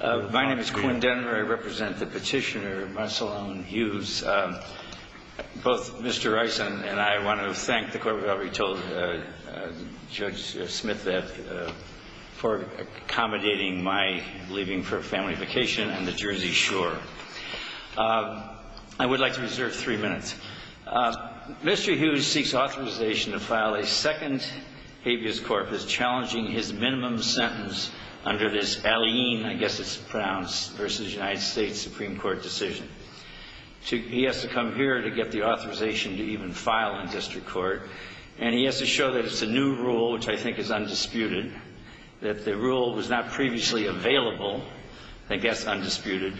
My name is Quinn Denner. I represent the petitioner, Marcelone Hughes. Both Mr. Rice and I want to thank the Court of Recovery Judge Smith for accommodating my leaving for a family vacation on the Jersey Shore. I would like to reserve three minutes. Mr. Hughes seeks authorization to file a second habeas corpus challenging his minimum sentence under this Alleyne, I guess it's pronounced, v. United States Supreme Court decision. He has to come here to get the authorization to even file in district court, and he has to show that it's a new rule, which I think is undisputed, that the rule was not previously available. I think that's undisputed.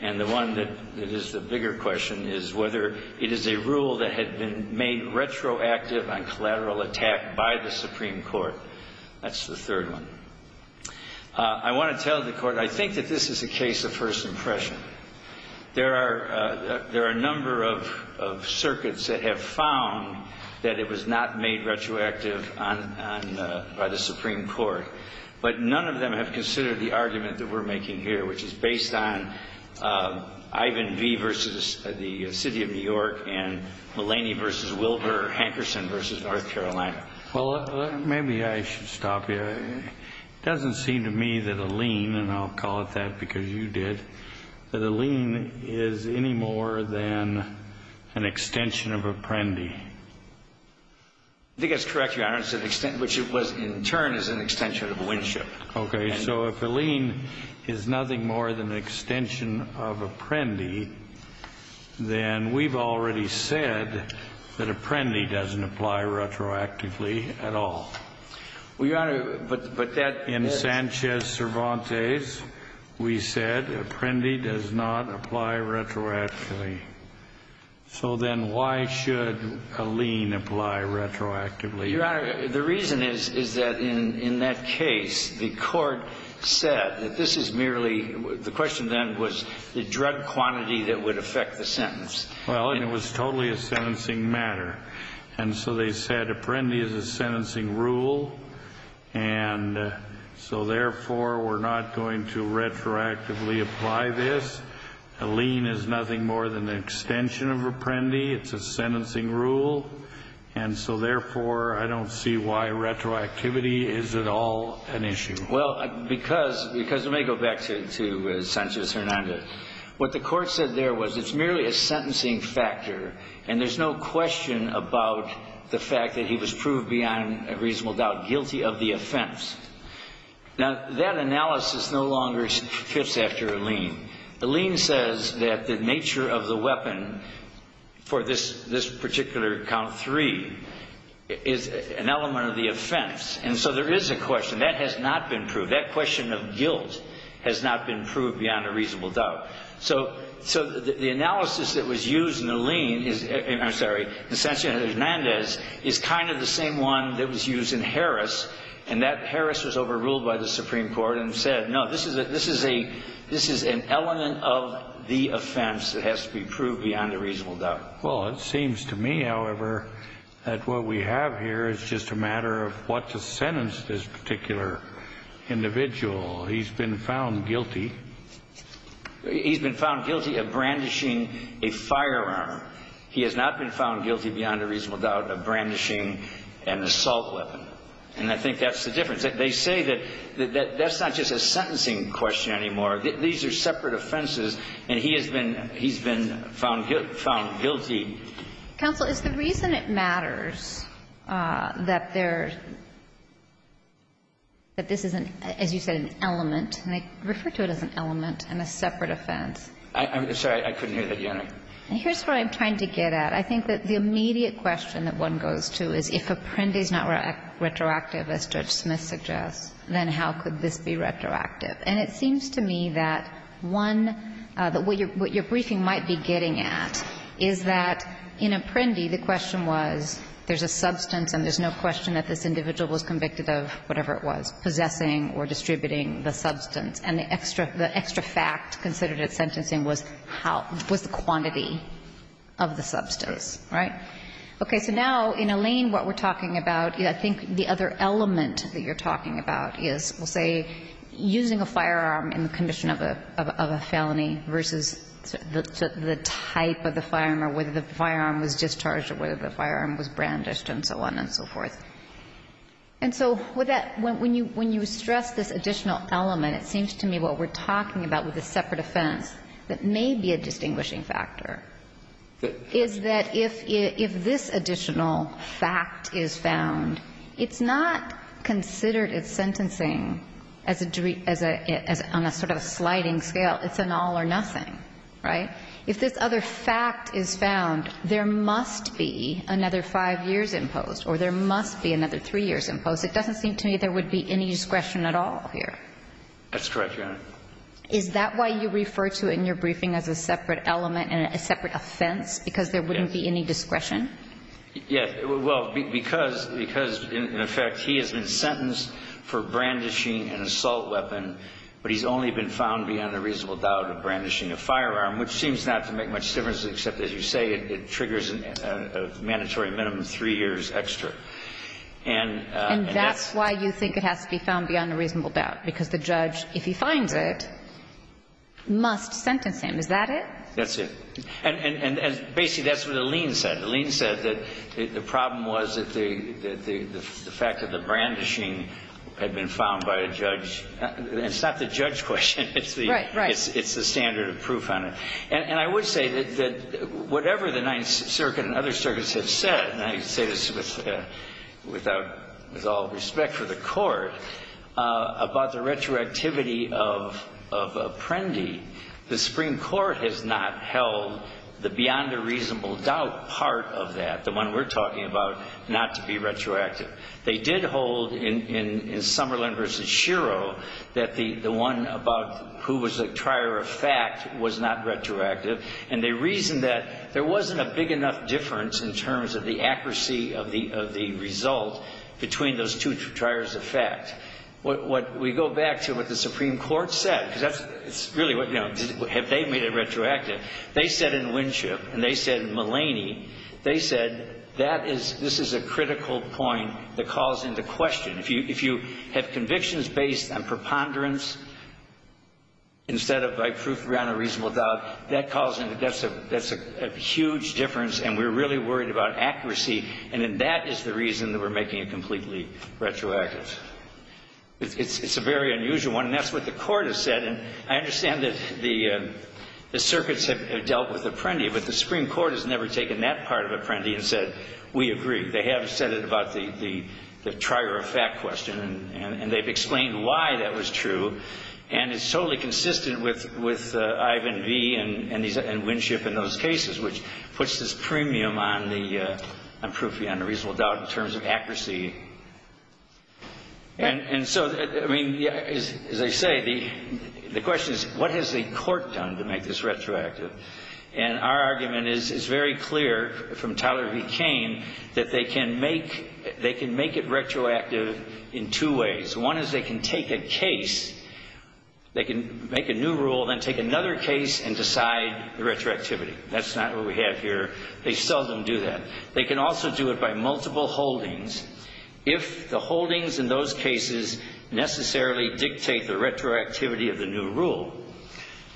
And the one that is the bigger question is whether it is a rule that had been made retroactive on collateral attack by the Supreme Court. That's the third one. I want to tell the Court, I think that this is a case of first impression. There are a number of circuits that have found that it was not made retroactive by the Supreme Court, but none of them have considered the argument that we're making here, which is based on Ivan V. v. the City of New York and Mulaney v. Wilbur Hankerson v. North Carolina. Well, maybe I should stop you. It doesn't seem to me that Alleyne, and I'll call it that because you did, that Alleyne is any more than an extension of Apprendi. I think that's correct, Your Honor. It's an extension, which it was in turn, is an extension of Winship. Okay. So if Alleyne is nothing more than an extension of Apprendi, then we've already said that Apprendi doesn't apply retroactively at all. Well, Your Honor, but that is In Sanchez-Cervantes, we said Apprendi does not apply retroactively. So then why should Alleyne apply retroactively? Your Honor, the reason is that in that case, the court said that this is merely, the question then was the drug quantity that would affect the sentence. Well, and it was totally a sentencing matter. And so they said Apprendi is a sentencing rule. And so therefore, we're not going to retroactively apply this. Alleyne is nothing more than an extension of Apprendi. It's a sentencing rule. And so therefore, I don't see why retroactivity is at all an issue. Well, because it may go back to Sanchez-Hernandez, what the court said there was it's merely a sentencing factor. And there's no question about the fact that he was proved beyond a reasonable doubt guilty of the offense. Now, that analysis no longer fits after Alleyne. Alleyne says that the nature of the weapon for this particular count three is an element of the offense. And so there is a question. That has not been proved. That question of guilt has not been proved beyond a reasonable doubt. So the analysis that was used in Alleyne, I'm sorry, in Sanchez-Hernandez is kind of the same one that was used in Harris. And that Harris was overruled by the Supreme Court and said, no, this is an element of the offense that has to be proved beyond a reasonable doubt. Well, it seems to me, however, that what we have here is just a matter of what to sentence this particular individual. He's been found guilty. He's been found guilty of brandishing a firearm. He has not been found guilty beyond a reasonable doubt of brandishing an assault weapon. And I think that's the difference. They say that that's not just a sentencing question anymore. These are separate offenses. And he has been found guilty. Counsel, is the reason it matters that there — that this isn't, as you said, an element — and I refer to it as an element and a separate offense. I'm sorry. I couldn't hear that, Your Honor. Here's what I'm trying to get at. I think that the immediate question that one goes to is, if Apprendi's not retroactive, as Judge Smith suggests, then how could this be retroactive? And it seems to me that one — that what your briefing might be getting at is that in Apprendi, the question was there's a substance and there's no question that this individual was convicted of whatever it was, possessing or distributing the substance. And the extra fact considered at sentencing was how — was the quantity of the substance, right? Okay. So now, in Alain, what we're talking about, I think the other element that you're talking about is, we'll say, using a firearm in the condition of a felony versus the type of the firearm or whether the firearm was discharged or whether the firearm was brandished and so on and so forth. And so with that, when you — when you stress this additional element, it seems to me what we're talking about with the separate defense that may be a distinguishing factor is that if — if this additional fact is found, it's not considered at sentencing as a — as a — on a sort of a sliding scale, it's an all or nothing, right? If this other fact is found, there must be another five years imposed or there must be another three years imposed. It doesn't seem to me there would be any discretion at all here. That's correct, Your Honor. Is that why you refer to it in your briefing as a separate element and a separate offense, because there wouldn't be any discretion? Yes. Well, because — because, in effect, he has been sentenced for brandishing an assault weapon, but he's only been found beyond a reasonable doubt of brandishing a firearm, which seems not to make much difference except, as you say, it triggers a mandatory minimum of three years extra. And — And that's why you think it has to be found beyond a reasonable doubt, because the judge, if he finds it, must sentence him. Is that it? That's it. And — and — and basically, that's what the lien said. The lien said that the problem was that the — that the fact that the brandishing had been found by a judge — it's not the judge's question. It's the — Right, right. It's the standard of proof on it. And I would say that whatever the Ninth Circuit and other circuits have said, and I say this with — without — with all respect for the Court, about the retroactivity of — of Prendy, the Supreme Court has not held the beyond a reasonable doubt part of that, the one we're talking about, not to be retroactive. They did hold in — in Summerlin v. Shiro that the one about who was a trier of fact was not retroactive. And they reasoned that there wasn't a big enough difference in terms of the accuracy of the — of the between those two triers of fact. What — what — we go back to what the Supreme Court said, because that's — it's really what — you know, have they made it retroactive? They said in Winship and they said in Mulaney, they said that is — this is a critical point that calls into question. If you — if you have convictions based on preponderance instead of by proof beyond a reasonable doubt, that calls into — that's a — that's a huge difference, and we're the reason that we're making it completely retroactive. It's a very unusual one, and that's what the Court has said. And I understand that the — the circuits have dealt with Prendy, but the Supreme Court has never taken that part of Prendy and said, we agree. They have said it about the — the trier of fact question, and they've explained why that was true. And it's totally consistent with — with Ivan v. and Winship and those cases, which puts this premium on the — on proof beyond a reasonable doubt in terms of accuracy. And so, I mean, as I say, the question is, what has the Court done to make this retroactive? And our argument is, it's very clear from Tyler v. Kane that they can make — they can make it retroactive in two ways. One is, they can take a case, they can make a new rule, then take another case and decide the retroactivity. They seldom do that. They can also do it by multiple holdings if the holdings in those cases necessarily dictate the retroactivity of the new rule.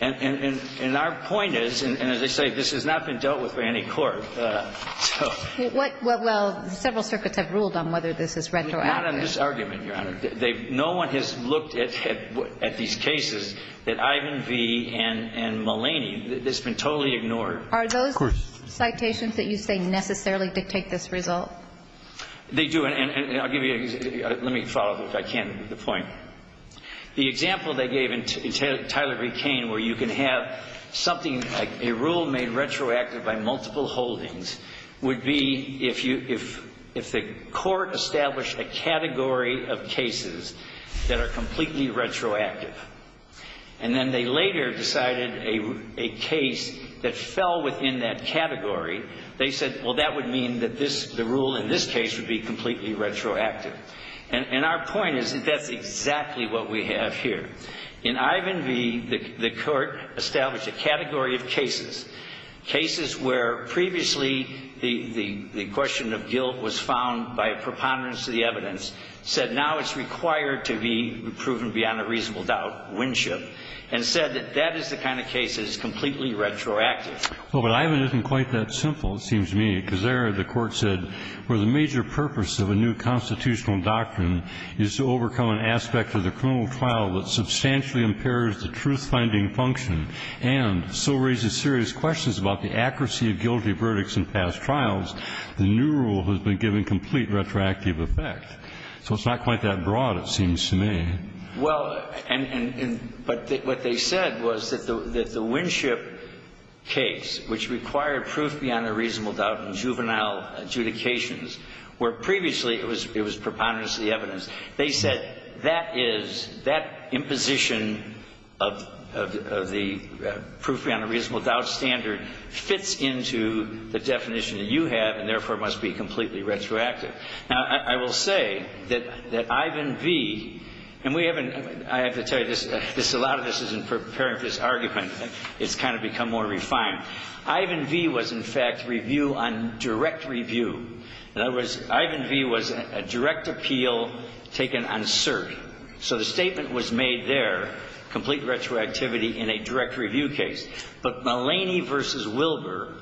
And — and our point is, and as I say, this has not been dealt with by any court, so — What — well, several circuits have ruled on whether this is retroactive. Not on this argument, Your Honor. They've — no one has looked at — at these cases that Ivan v. and — and Mulaney. It's been totally ignored. Are those — Of course. Citations that you say necessarily dictate this result? They do. And — and I'll give you — let me follow up if I can with the point. The example they gave in Tyler v. Kane where you can have something like a rule made retroactive by multiple holdings would be if you — if the Court established a category of cases that are completely retroactive, and then they later decided a — a case that fell within that category, they said, well, that would mean that this — the rule in this case would be completely retroactive. And — and our point is that that's exactly what we have here. In Ivan v., the — the Court established a category of cases, cases where previously the — the question of guilt was found by a preponderance of the evidence, said now it's required to be proven beyond a reasonable doubt, winship, and said that that is the kind of case that is completely retroactive. Well, but Ivan isn't quite that simple, it seems to me, because there the Court said where the major purpose of a new constitutional doctrine is to overcome an aspect of the criminal trial that substantially impairs the truth-finding function and so raises serious questions about the accuracy of guilty verdicts in past trials, the new rule has been given complete retroactive effect. So it's not quite that broad, it seems to me. Well, and — but what they said was that the — that the Winship case, which required proof beyond a reasonable doubt in juvenile adjudications, where previously it was — it was preponderance of the evidence, they said that is — that imposition of — of the proof beyond a reasonable doubt standard fits into the definition that you have and therefore must be completely retroactive. Now, I will say that — that Ivan v. — and we haven't — I have to tell you, this — this — a lot of this isn't preparing for this argument. It's kind of become more refined. Ivan v. was, in fact, review on direct review. In other words, Ivan v. was a direct appeal taken on cert. So the statement was made there, complete retroactivity in a direct review case. But Mullaney v. Wilbur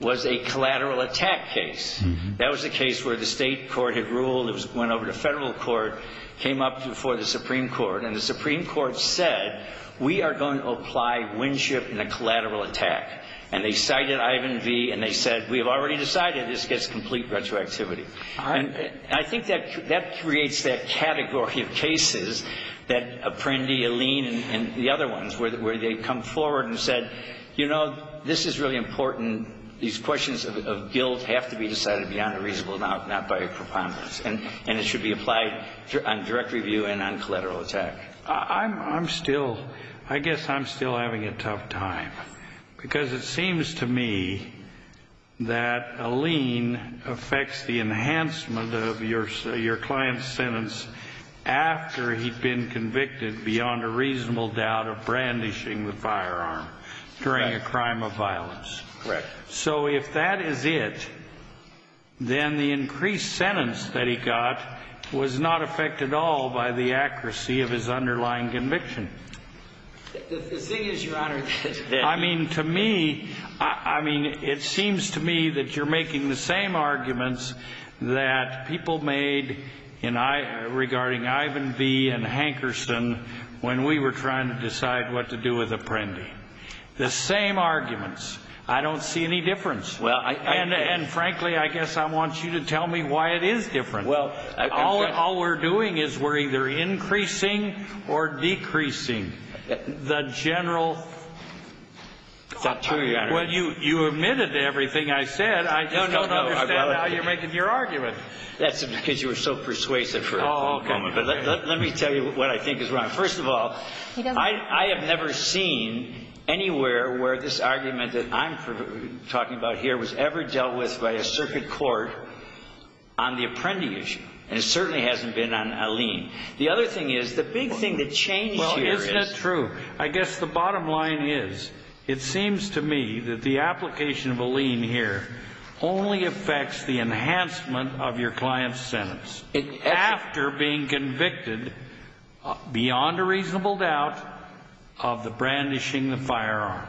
was a collateral attack case. That was a case where the state court had ruled. It was — went over to federal court, came up before the Supreme Court, and the Supreme Court said, we are going to apply Winship in a collateral attack. And they cited Ivan v. and they said, we have already decided this gets complete retroactivity. And I think that — that creates that category of cases that Apprendi, Alleen and the other ones, where they come forward and said, you know, this is really important. These questions of guilt have to be decided beyond a reasonable doubt, not by a preponderance. And it should be applied on direct review and on collateral attack. I'm — I'm still — I guess I'm still having a tough time, because it seems to me that Alleen affects the enhancement of your client's sentence after he'd been convicted beyond a reasonable doubt of brandishing the firearm during a crime of violence. Correct. So if that is it, then the increased sentence that he got was not affected at all by the accuracy of his underlying conviction. The thing is, Your Honor, that — I mean, to me — I mean, it seems to me that you're making the same arguments that people made in — regarding Ivan v. and Hankerson when we were trying to decide what to do with Apprendi. The same arguments. I don't see any difference. Well, I — And, frankly, I guess I want you to tell me why it is different. Well — All we're doing is we're either increasing or decreasing the general — It's not true, Your Honor. Well, you omitted everything I said. I just don't understand how you're making your argument. That's because you were so persuasive for a moment. But let me tell you what I think is wrong. First of all, I have never seen anywhere where this argument that I'm talking about here was ever dealt with by a circuit court on the Apprendi issue. And it certainly hasn't been on a lien. The other thing is, the big thing that changed here is — Well, isn't it true? I guess the bottom line is, it seems to me that the application of a lien here only affects the enhancement of your client's sentence. After being convicted, beyond a reasonable doubt, of the brandishing of the firearm.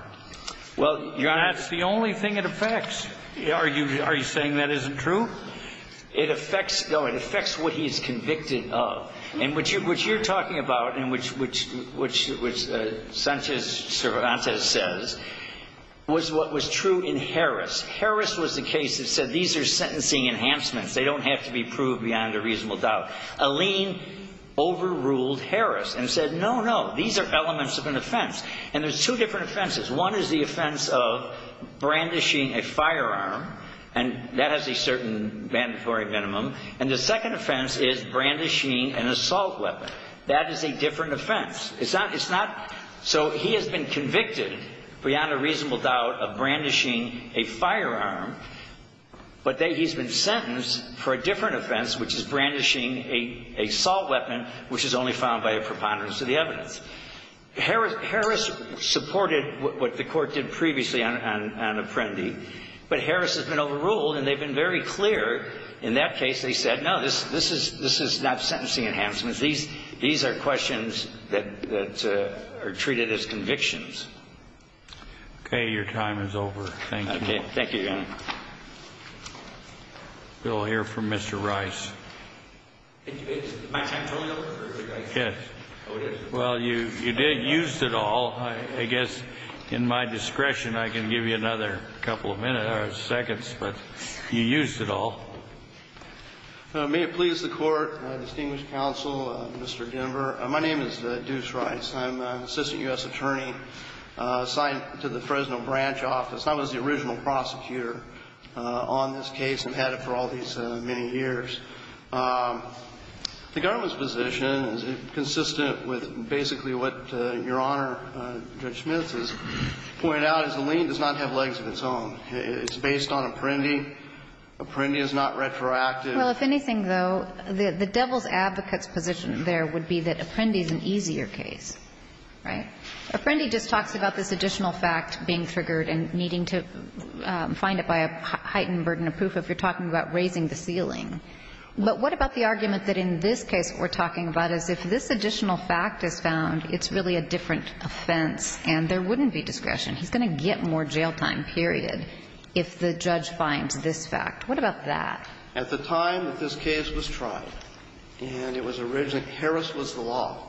Well, Your Honor — That's the only thing it affects. Are you saying that isn't true? It affects — no, it affects what he is convicted of. And what you're talking about, and which Sanchez Cervantes says, was what was true in Harris. Harris was the case that said, these are sentencing enhancements. They don't have to be proved beyond a reasonable doubt. A lien overruled Harris and said, no, no, these are elements of an offense. And there's two different offenses. One is the offense of brandishing a firearm, and that has a certain mandatory minimum. And the second offense is brandishing an assault weapon. That is a different offense. It's not — so he has been convicted, beyond a reasonable doubt, of brandishing a firearm. But he's been sentenced for a different offense, which is brandishing a assault weapon, which is only found by a preponderance of the evidence. Harris supported what the Court did previously on Apprendi. But Harris has been overruled, and they've been very clear in that case. They said, no, this is not sentencing enhancements. These are questions that are treated as convictions. Your time is over. Thank you. Thank you, Your Honor. We'll hear from Mr. Rice. Is my time totally over? Yes. Well, you did use it all. I guess, in my discretion, I can give you another couple of minutes or seconds. But you used it all. May it please the Court, distinguished counsel, Mr. Denver. My name is Deuce Rice. I'm an assistant U.S. attorney assigned to the Fresno branch office. I was the original prosecutor on this case and had it for all these many years. The government's position is consistent with basically what Your Honor, Judge Smith, has pointed out, is the lien does not have legs of its own. It's based on Apprendi. Apprendi is not retroactive. Well, if anything, though, the devil's advocate's position there would be that Apprendi is an easier case, right? Apprendi just talks about this additional fact being triggered and needing to find it by a heightened burden of proof if you're talking about raising the ceiling. But what about the argument that in this case what we're talking about is if this additional fact is found, it's really a different offense and there wouldn't be discretion. He's going to get more jail time, period, if the judge finds this fact. What about that? At the time that this case was tried, and it was originally Harris was the law.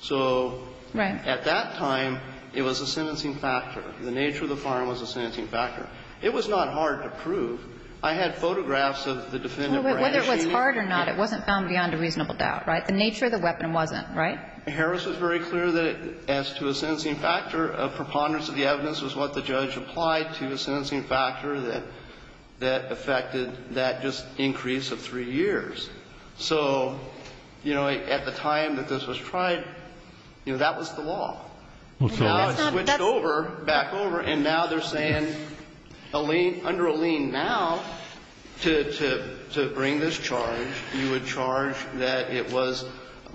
So at that point in time, there was no discretion. At that time, it was a sentencing factor. The nature of the firearm was a sentencing factor. It was not hard to prove. I had photographs of the defendant wearing a shield. But whether it was hard or not, it wasn't found beyond a reasonable doubt, right? The nature of the weapon wasn't, right? Harris was very clear that as to a sentencing factor, a preponderance of the evidence was what the judge applied to a sentencing factor that affected that just increase of three years. So, you know, at the time that this was tried, you know, that was the law. And now it's switched over, back over, and now they're saying under a lien now, to bring this charge, you would charge that it was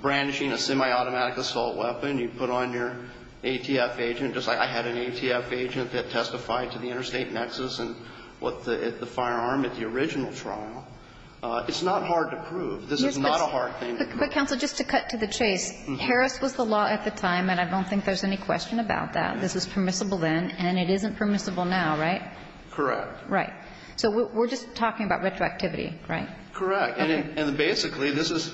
brandishing a semi-automatic assault weapon. You put on your ATF agent, just like I had an ATF agent that testified to the interstate nexus and the firearm at the original trial. It's not hard to prove. This is not a hard thing to prove. But, counsel, just to cut to the chase, Harris was the law at the time, and I don't think there's any question about that. This is permissible then, and it isn't permissible now, right? Correct. Right. So we're just talking about retroactivity, right? Correct. And basically, this is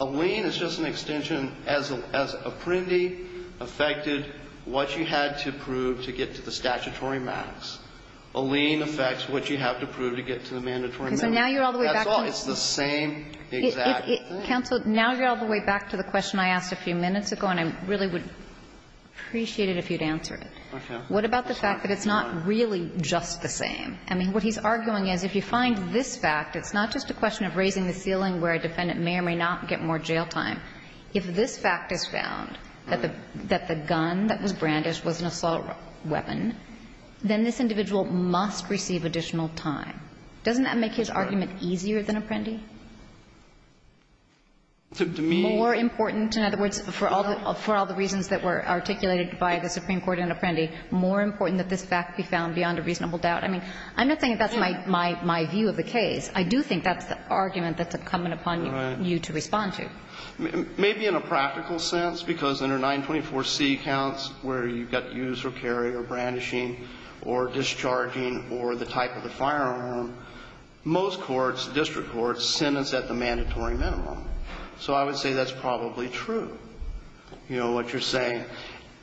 a lien. It's just an extension. As a printee affected what you had to prove to get to the statutory max. A lien affects what you have to prove to get to the mandatory max. So now you're all the way back to the question I asked a few minutes ago, and I really would appreciate it if you'd answer it. What about the fact that it's not really just the same? I mean, what he's arguing is if you find this fact, it's not just a question of raising the ceiling where a defendant may or may not get more jail time. If this fact is found, that the gun that was brandished was an assault weapon, then this individual must receive additional time. Doesn't that make his argument easier than a printee? To me. More important, in other words, for all the reasons that were articulated by the Supreme Court and a printee, more important that this fact be found beyond a reasonable doubt. I mean, I'm not saying that's my view of the case. I do think that's the argument that's coming upon you to respond to. Maybe in a practical sense, because under 924C counts where you've got use or carry or brandishing or discharging or the type of the firearm, most courts, district courts, sentence at the mandatory minimum. So I would say that's probably true, you know, what you're saying.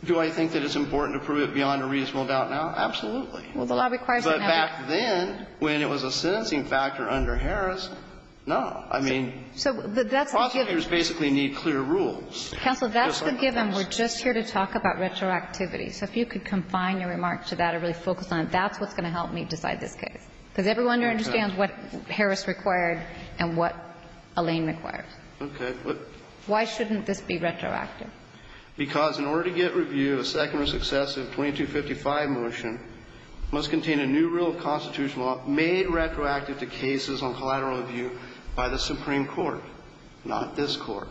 Do I think that it's important to prove it beyond a reasonable doubt now? Absolutely. But back then, when it was a sentencing factor under Harris, no. I mean, prosecutors basically need clear rules. Counsel, that's the given. We're just here to talk about retroactivity. So if you could confine your remarks to that or really focus on it, that's what's going to help me decide this case. Because everyone understands what Harris required and what Alain required. Okay. Why shouldn't this be retroactive? Because in order to get review, a second or successive 2255 motion must contain a new rule of constitutional law made retroactive to cases on collateral review by the Supreme Court, not this Court.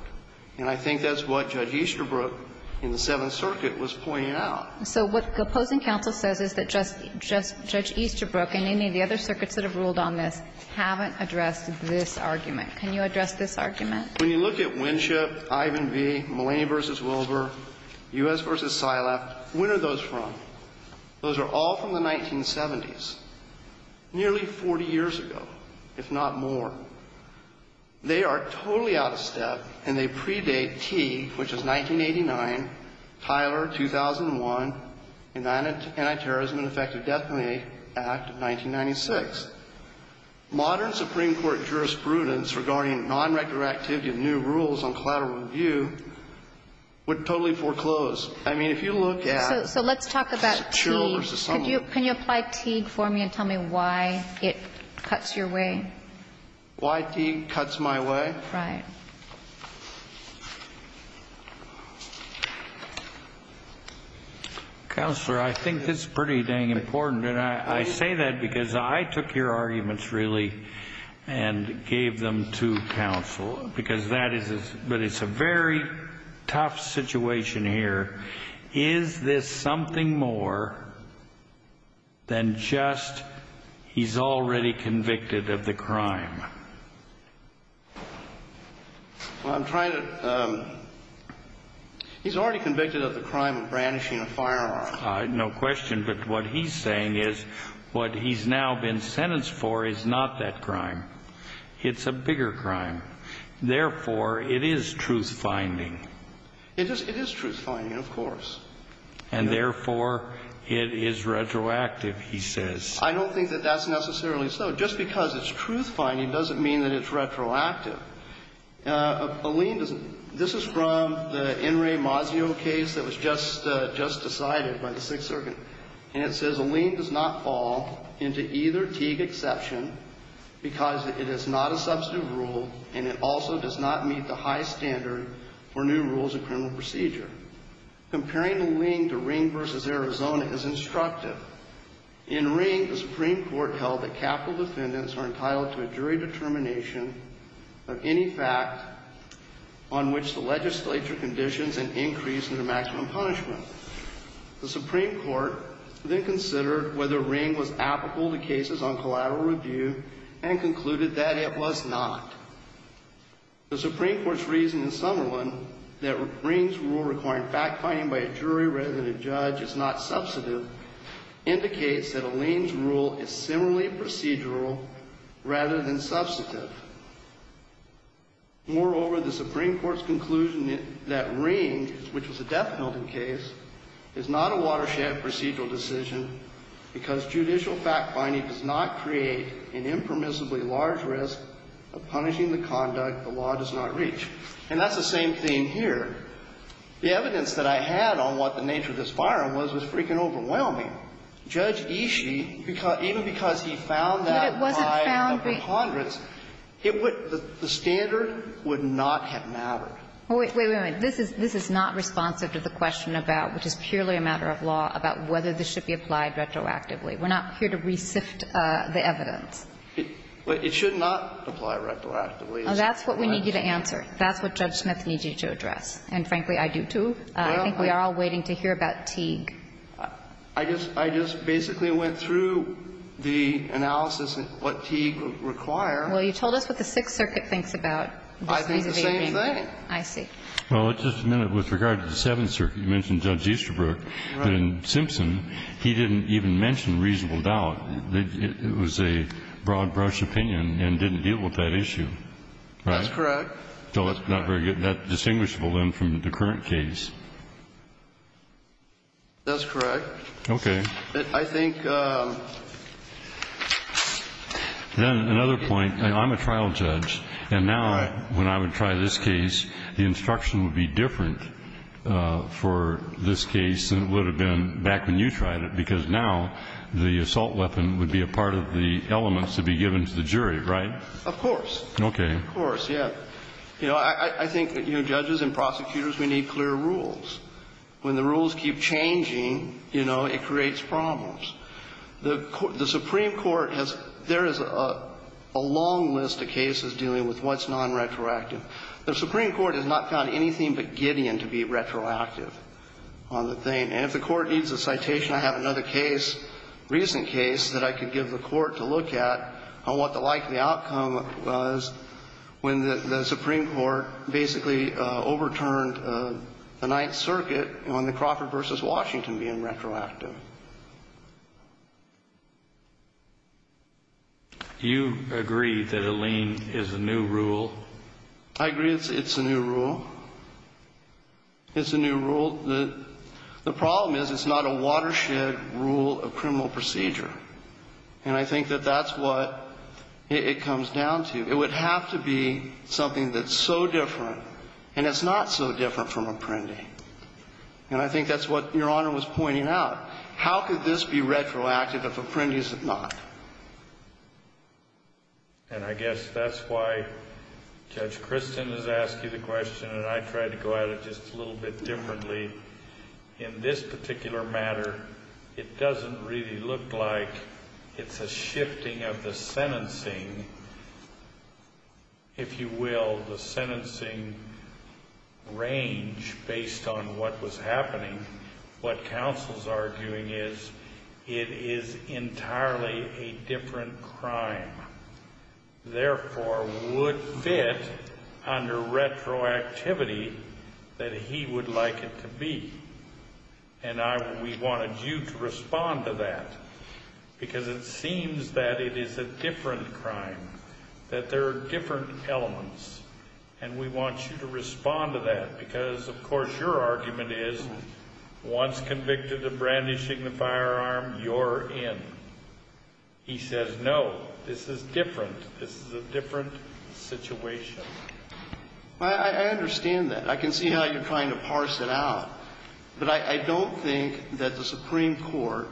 And I think that's what Judge Easterbrook in the Seventh Circuit was pointing out. So what the opposing counsel says is that Judge Easterbrook and any of the other circuits that have ruled on this haven't addressed this argument. Can you address this argument? When you look at Winship, Ivan v. Mulaney v. Wilbur, U.S. v. Sylap, when are those from? Those are all from the 1970s, nearly 40 years ago, if not more. They are totally out of step, and they predate Teague, which is 1989, Tyler, 2001, and the Anti-Terrorism and Effective Death Penalty Act of 1996. Modern Supreme Court jurisprudence regarding non-retroactivity of new rules on collateral review would totally foreclose. I mean, if you look at the children's assumption So let's talk about Teague. Can you apply Teague for me and tell me why it cuts your way? Why Teague cuts my way? Right. Counselor, I think it's pretty dang important, and I say that because I took your arguments, really, and gave them to counsel, but it's a very tough situation here. Is this something more than just he's already convicted of the crime? Well, I'm trying to He's already convicted of the crime of brandishing a firearm. No question. But what he's saying is what he's now been sentenced for is not that crime. It's a bigger crime. Therefore, it is truth finding. It is. It is truth finding. Of course. And therefore, it is retroactive, he says. I don't think that that's necessarily so. Just because it's truth finding doesn't mean that it's retroactive. A lien doesn't This is from the Enri Mazzio case that was just decided by the Sixth Circuit. And it says a lien does not fall into either Teague exception because it is not a substantive rule, and it also does not meet the high standard for new rules of criminal procedure. Comparing the lien to Ring v. Arizona is instructive. In Ring, the Supreme Court held that capital defendants are entitled to a jury determination of any fact on which the legislature conditions an increase in their maximum punishment. The Supreme Court then considered whether Ring was applicable to cases on collateral review and concluded that it was not. The Supreme Court's reason in Summerlin that Ring's rule requiring fact finding by a jury rather than a judge is not substantive indicates that a lien's rule is similarly procedural rather than substantive. Moreover, the Supreme Court's conclusion that Ring, which was a death penalty case, is not a watershed procedural decision because judicial fact finding does not fall into either Teague exception. And that's the same thing here. The evidence that I had on what the nature of this firearm was was freaking overwhelming. Judge Ishii, even because he found that by a number of hundredths, it would – the standard would not have mattered. Wait, wait, wait. This is not responsive to the question about, which is purely a matter of law, about whether this should be applied retroactively. We're not here to re-sift the evidence. But it should not apply retroactively. That's what we need you to answer. That's what Judge Smith needs you to address. And frankly, I do, too. I think we are all waiting to hear about Teague. I just – I just basically went through the analysis of what Teague would require. Well, you told us what the Sixth Circuit thinks about this piece of aging. I did the same thing. I see. Well, just a minute. With regard to the Seventh Circuit, you mentioned Judge Easterbrook. Right. But in Simpson, he didn't even mention reasonable doubt. It was a broad-brush opinion and didn't deal with that issue, right? That's correct. So it's not very good. That's distinguishable, then, from the current case. That's correct. Okay. I think – Then another point. I'm a trial judge. And now when I would try this case, the instruction would be different for this case than it would have been back when you tried it, because now the assault weapon would be a part of the elements to be given to the jury, right? Of course. Okay. Of course, yeah. You know, I think that, you know, judges and prosecutors, we need clear rules. When the rules keep changing, you know, it creates problems. The Supreme Court has – there is a long list of cases dealing with what's non-retroactive. The Supreme Court has not found anything but Gideon to be retroactive on the thing. And if the Court needs a citation, I have another case, recent case, that I could give the Court to look at on what the likely outcome was when the Supreme Court basically overturned the Ninth Circuit on the Crawford v. Washington being retroactive. Do you agree that a lien is a new rule? I agree it's a new rule. It's a new rule. The problem is it's not a watershed rule of criminal procedure. And I think that that's what it comes down to. It would have to be something that's so different. And it's not so different from apprendi. And I think that's what Your Honor was pointing out. How could this be retroactive if apprendi is not? And I guess that's why Judge Christin has asked you the question and I tried to go at it just a little bit differently. In this particular matter, it doesn't really look like it's a shifting of the sentencing, if you will, the sentencing range based on what was happening. What counsel's arguing is it is entirely a different crime. Therefore, would fit under retroactivity that he would like it to be. And we wanted you to respond to that because it seems that it is a different crime, that there are different elements. And we want you to respond to that because, of course, your argument is once convicted of brandishing the firearm, you're in. He says, no, this is different. This is a different situation. I understand that. I can see how you're trying to parse it out. But I don't think that the Supreme Court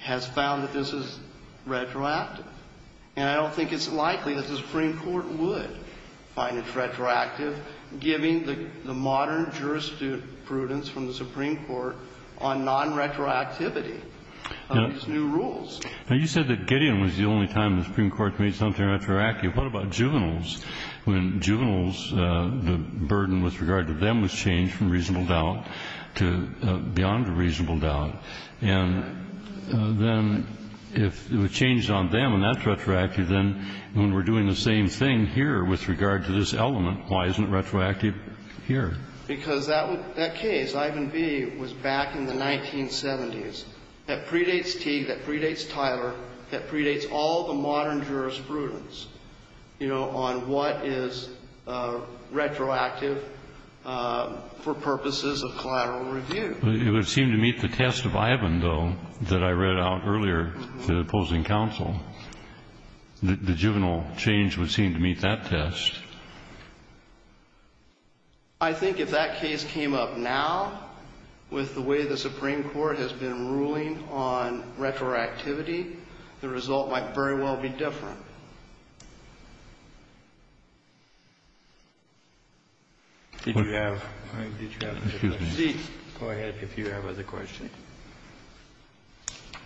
has found that this is retroactive. And I don't think it's likely that the Supreme Court would find it retroactive, given the modern jurisprudence from the Supreme Court on non-retroactivity of these new rules. Now, you said that Gideon was the only time the Supreme Court made something retroactive. What about juveniles? When juveniles, the burden with regard to them was changed from reasonable doubt to beyond a reasonable doubt. And then if it was changed on them and that's retroactive, then when we're doing the same thing here with regard to this element, why isn't it retroactive here? Because that case, Ivan V., was back in the 1970s. That predates Teague. That predates Tyler. That predates all the modern jurisprudence, you know, on what is retroactive for purposes of collateral review. It would seem to meet the test of Ivan, though, that I read out earlier to the opposing counsel. The juvenile change would seem to meet that test. I think if that case came up now, with the way the Supreme Court has been ruling on retroactivity, the result might very well be different. Did you have other questions?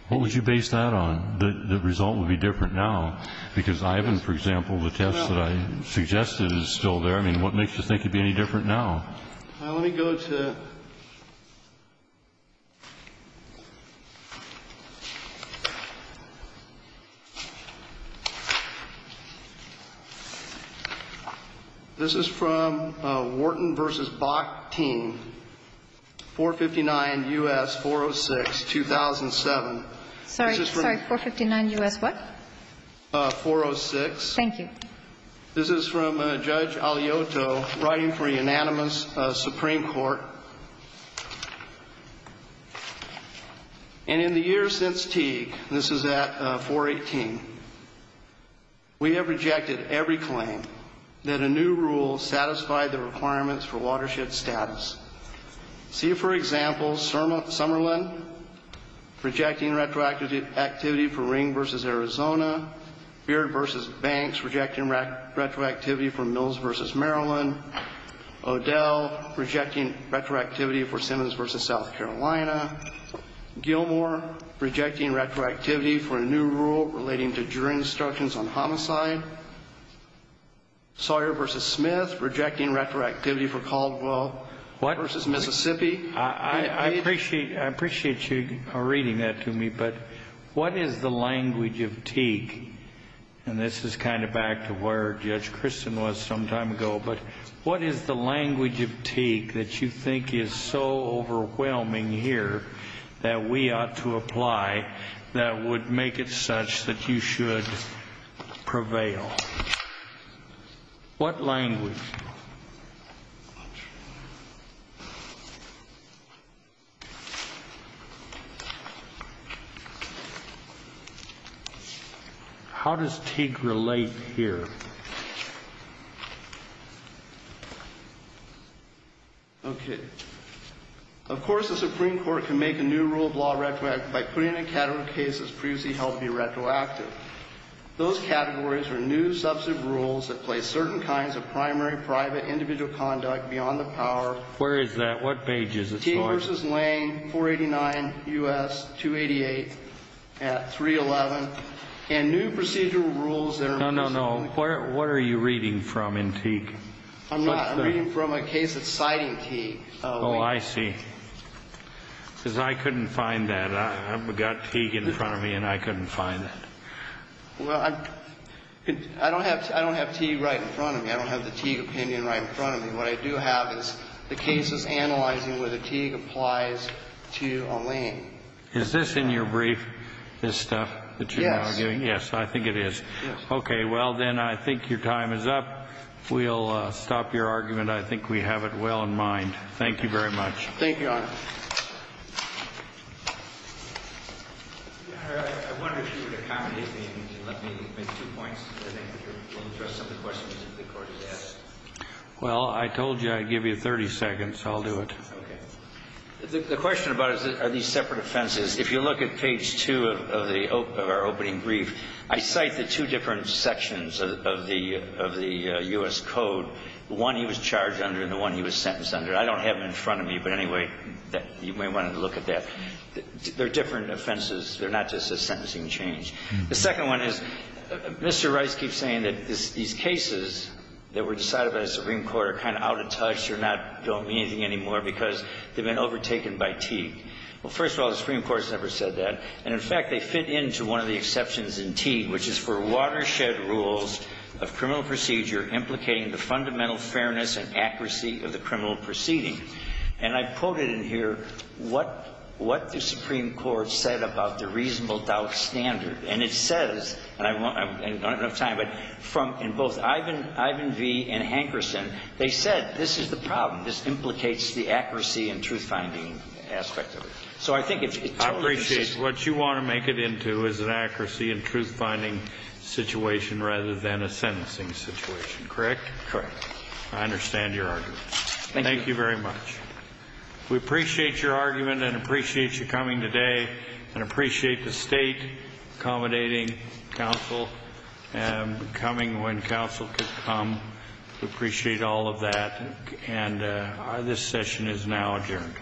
What would you base that on? The result would be different now. Because Ivan, for example, the test that I suggested is still there. I mean, what makes you think it would be any different now? Let me go to This is from Wharton v. Bakhtin, 459 U.S. 406, 2007. Sorry, 459 U.S. what? 406. Thank you. This is from Judge Aliotto, writing for a unanimous Supreme Court. And in the years since Teague, this is at 418, we have rejected every claim that a new rule satisfied the requirements for watershed status. See, for example, Summerlin, rejecting retroactivity for Ring v. Arizona. Beard v. Banks, rejecting retroactivity for Mills v. Maryland. O'Dell, rejecting retroactivity for Simmons v. South Carolina. Gilmour, rejecting retroactivity for a new rule relating to jury instructions on homicide. Sawyer v. Smith, rejecting retroactivity for Caldwell v. Mississippi. I appreciate you reading that to me. But what is the language of Teague? And this is kind of back to where Judge Christin was some time ago. But what is the language of Teague that you think is so overwhelming here that we ought to apply, that would make it such that you should prevail? What language? How does Teague relate here? Okay. Of course, the Supreme Court can make a new rule of law retroactive by putting in a category of cases previously held to be retroactive. Those categories are new substantive rules that place certain kinds of primary, private, individual conduct beyond the power. Where is that? What page is it? Teague v. Lane, 489 U.S. 288 at 311. And new procedural rules that are... No, no, no. What are you reading from in Teague? I'm not reading from a case that's citing Teague. Oh, I see. Because I couldn't find that. I've got Teague in front of me and I couldn't find it. Well, I don't have Teague right in front of me. I don't have the Teague opinion right in front of me. What I do have is the cases analyzing whether Teague applies to Lane. Is this in your brief, this stuff that you're now giving? Yes. Yes, I think it is. Yes. Okay. Well, then, I think your time is up. We'll stop your argument. I think we have it well in mind. Thank you very much. Thank you, Your Honor. Your Honor, I wonder if you would accommodate me and let me make two points. I think it would interest some of the questions that the Court has asked. Well, I told you I'd give you 30 seconds. I'll do it. Okay. The question about are these separate offenses, if you look at page 2 of our opening brief, I cite the two different sections of the U.S. Code, the one he was charged under and the one he was sentenced under. I don't have it in front of me, but anyway, you may want to look at that. They're different offenses. They're not just a sentencing change. The second one is, Mr. Rice keeps saying that these cases that were decided by the Supreme Court are kind of out of touch, they don't mean anything anymore because they've been overtaken by Teague. Well, first of all, the Supreme Court has never said that. And in fact, they fit into one of the exceptions in Teague, which is for watershed rules of criminal procedure implicating the fundamental fairness and accuracy of the criminal proceeding. And I've quoted in here what the Supreme Court said about the reasonable doubt standard. And it says, and I don't have enough time, but in both Ivan V. and Hankerson, they said, that this is the problem. This implicates the accuracy and truth-finding aspect of it. So I think it's totally consistent. I appreciate it. What you want to make it into is an accuracy and truth-finding situation rather than a sentencing situation, correct? Correct. I understand your argument. Thank you. Thank you very much. We appreciate your argument and appreciate you coming today and appreciate the State accommodating Council and coming when Council could come. We appreciate all of that. And this session is now adjourned.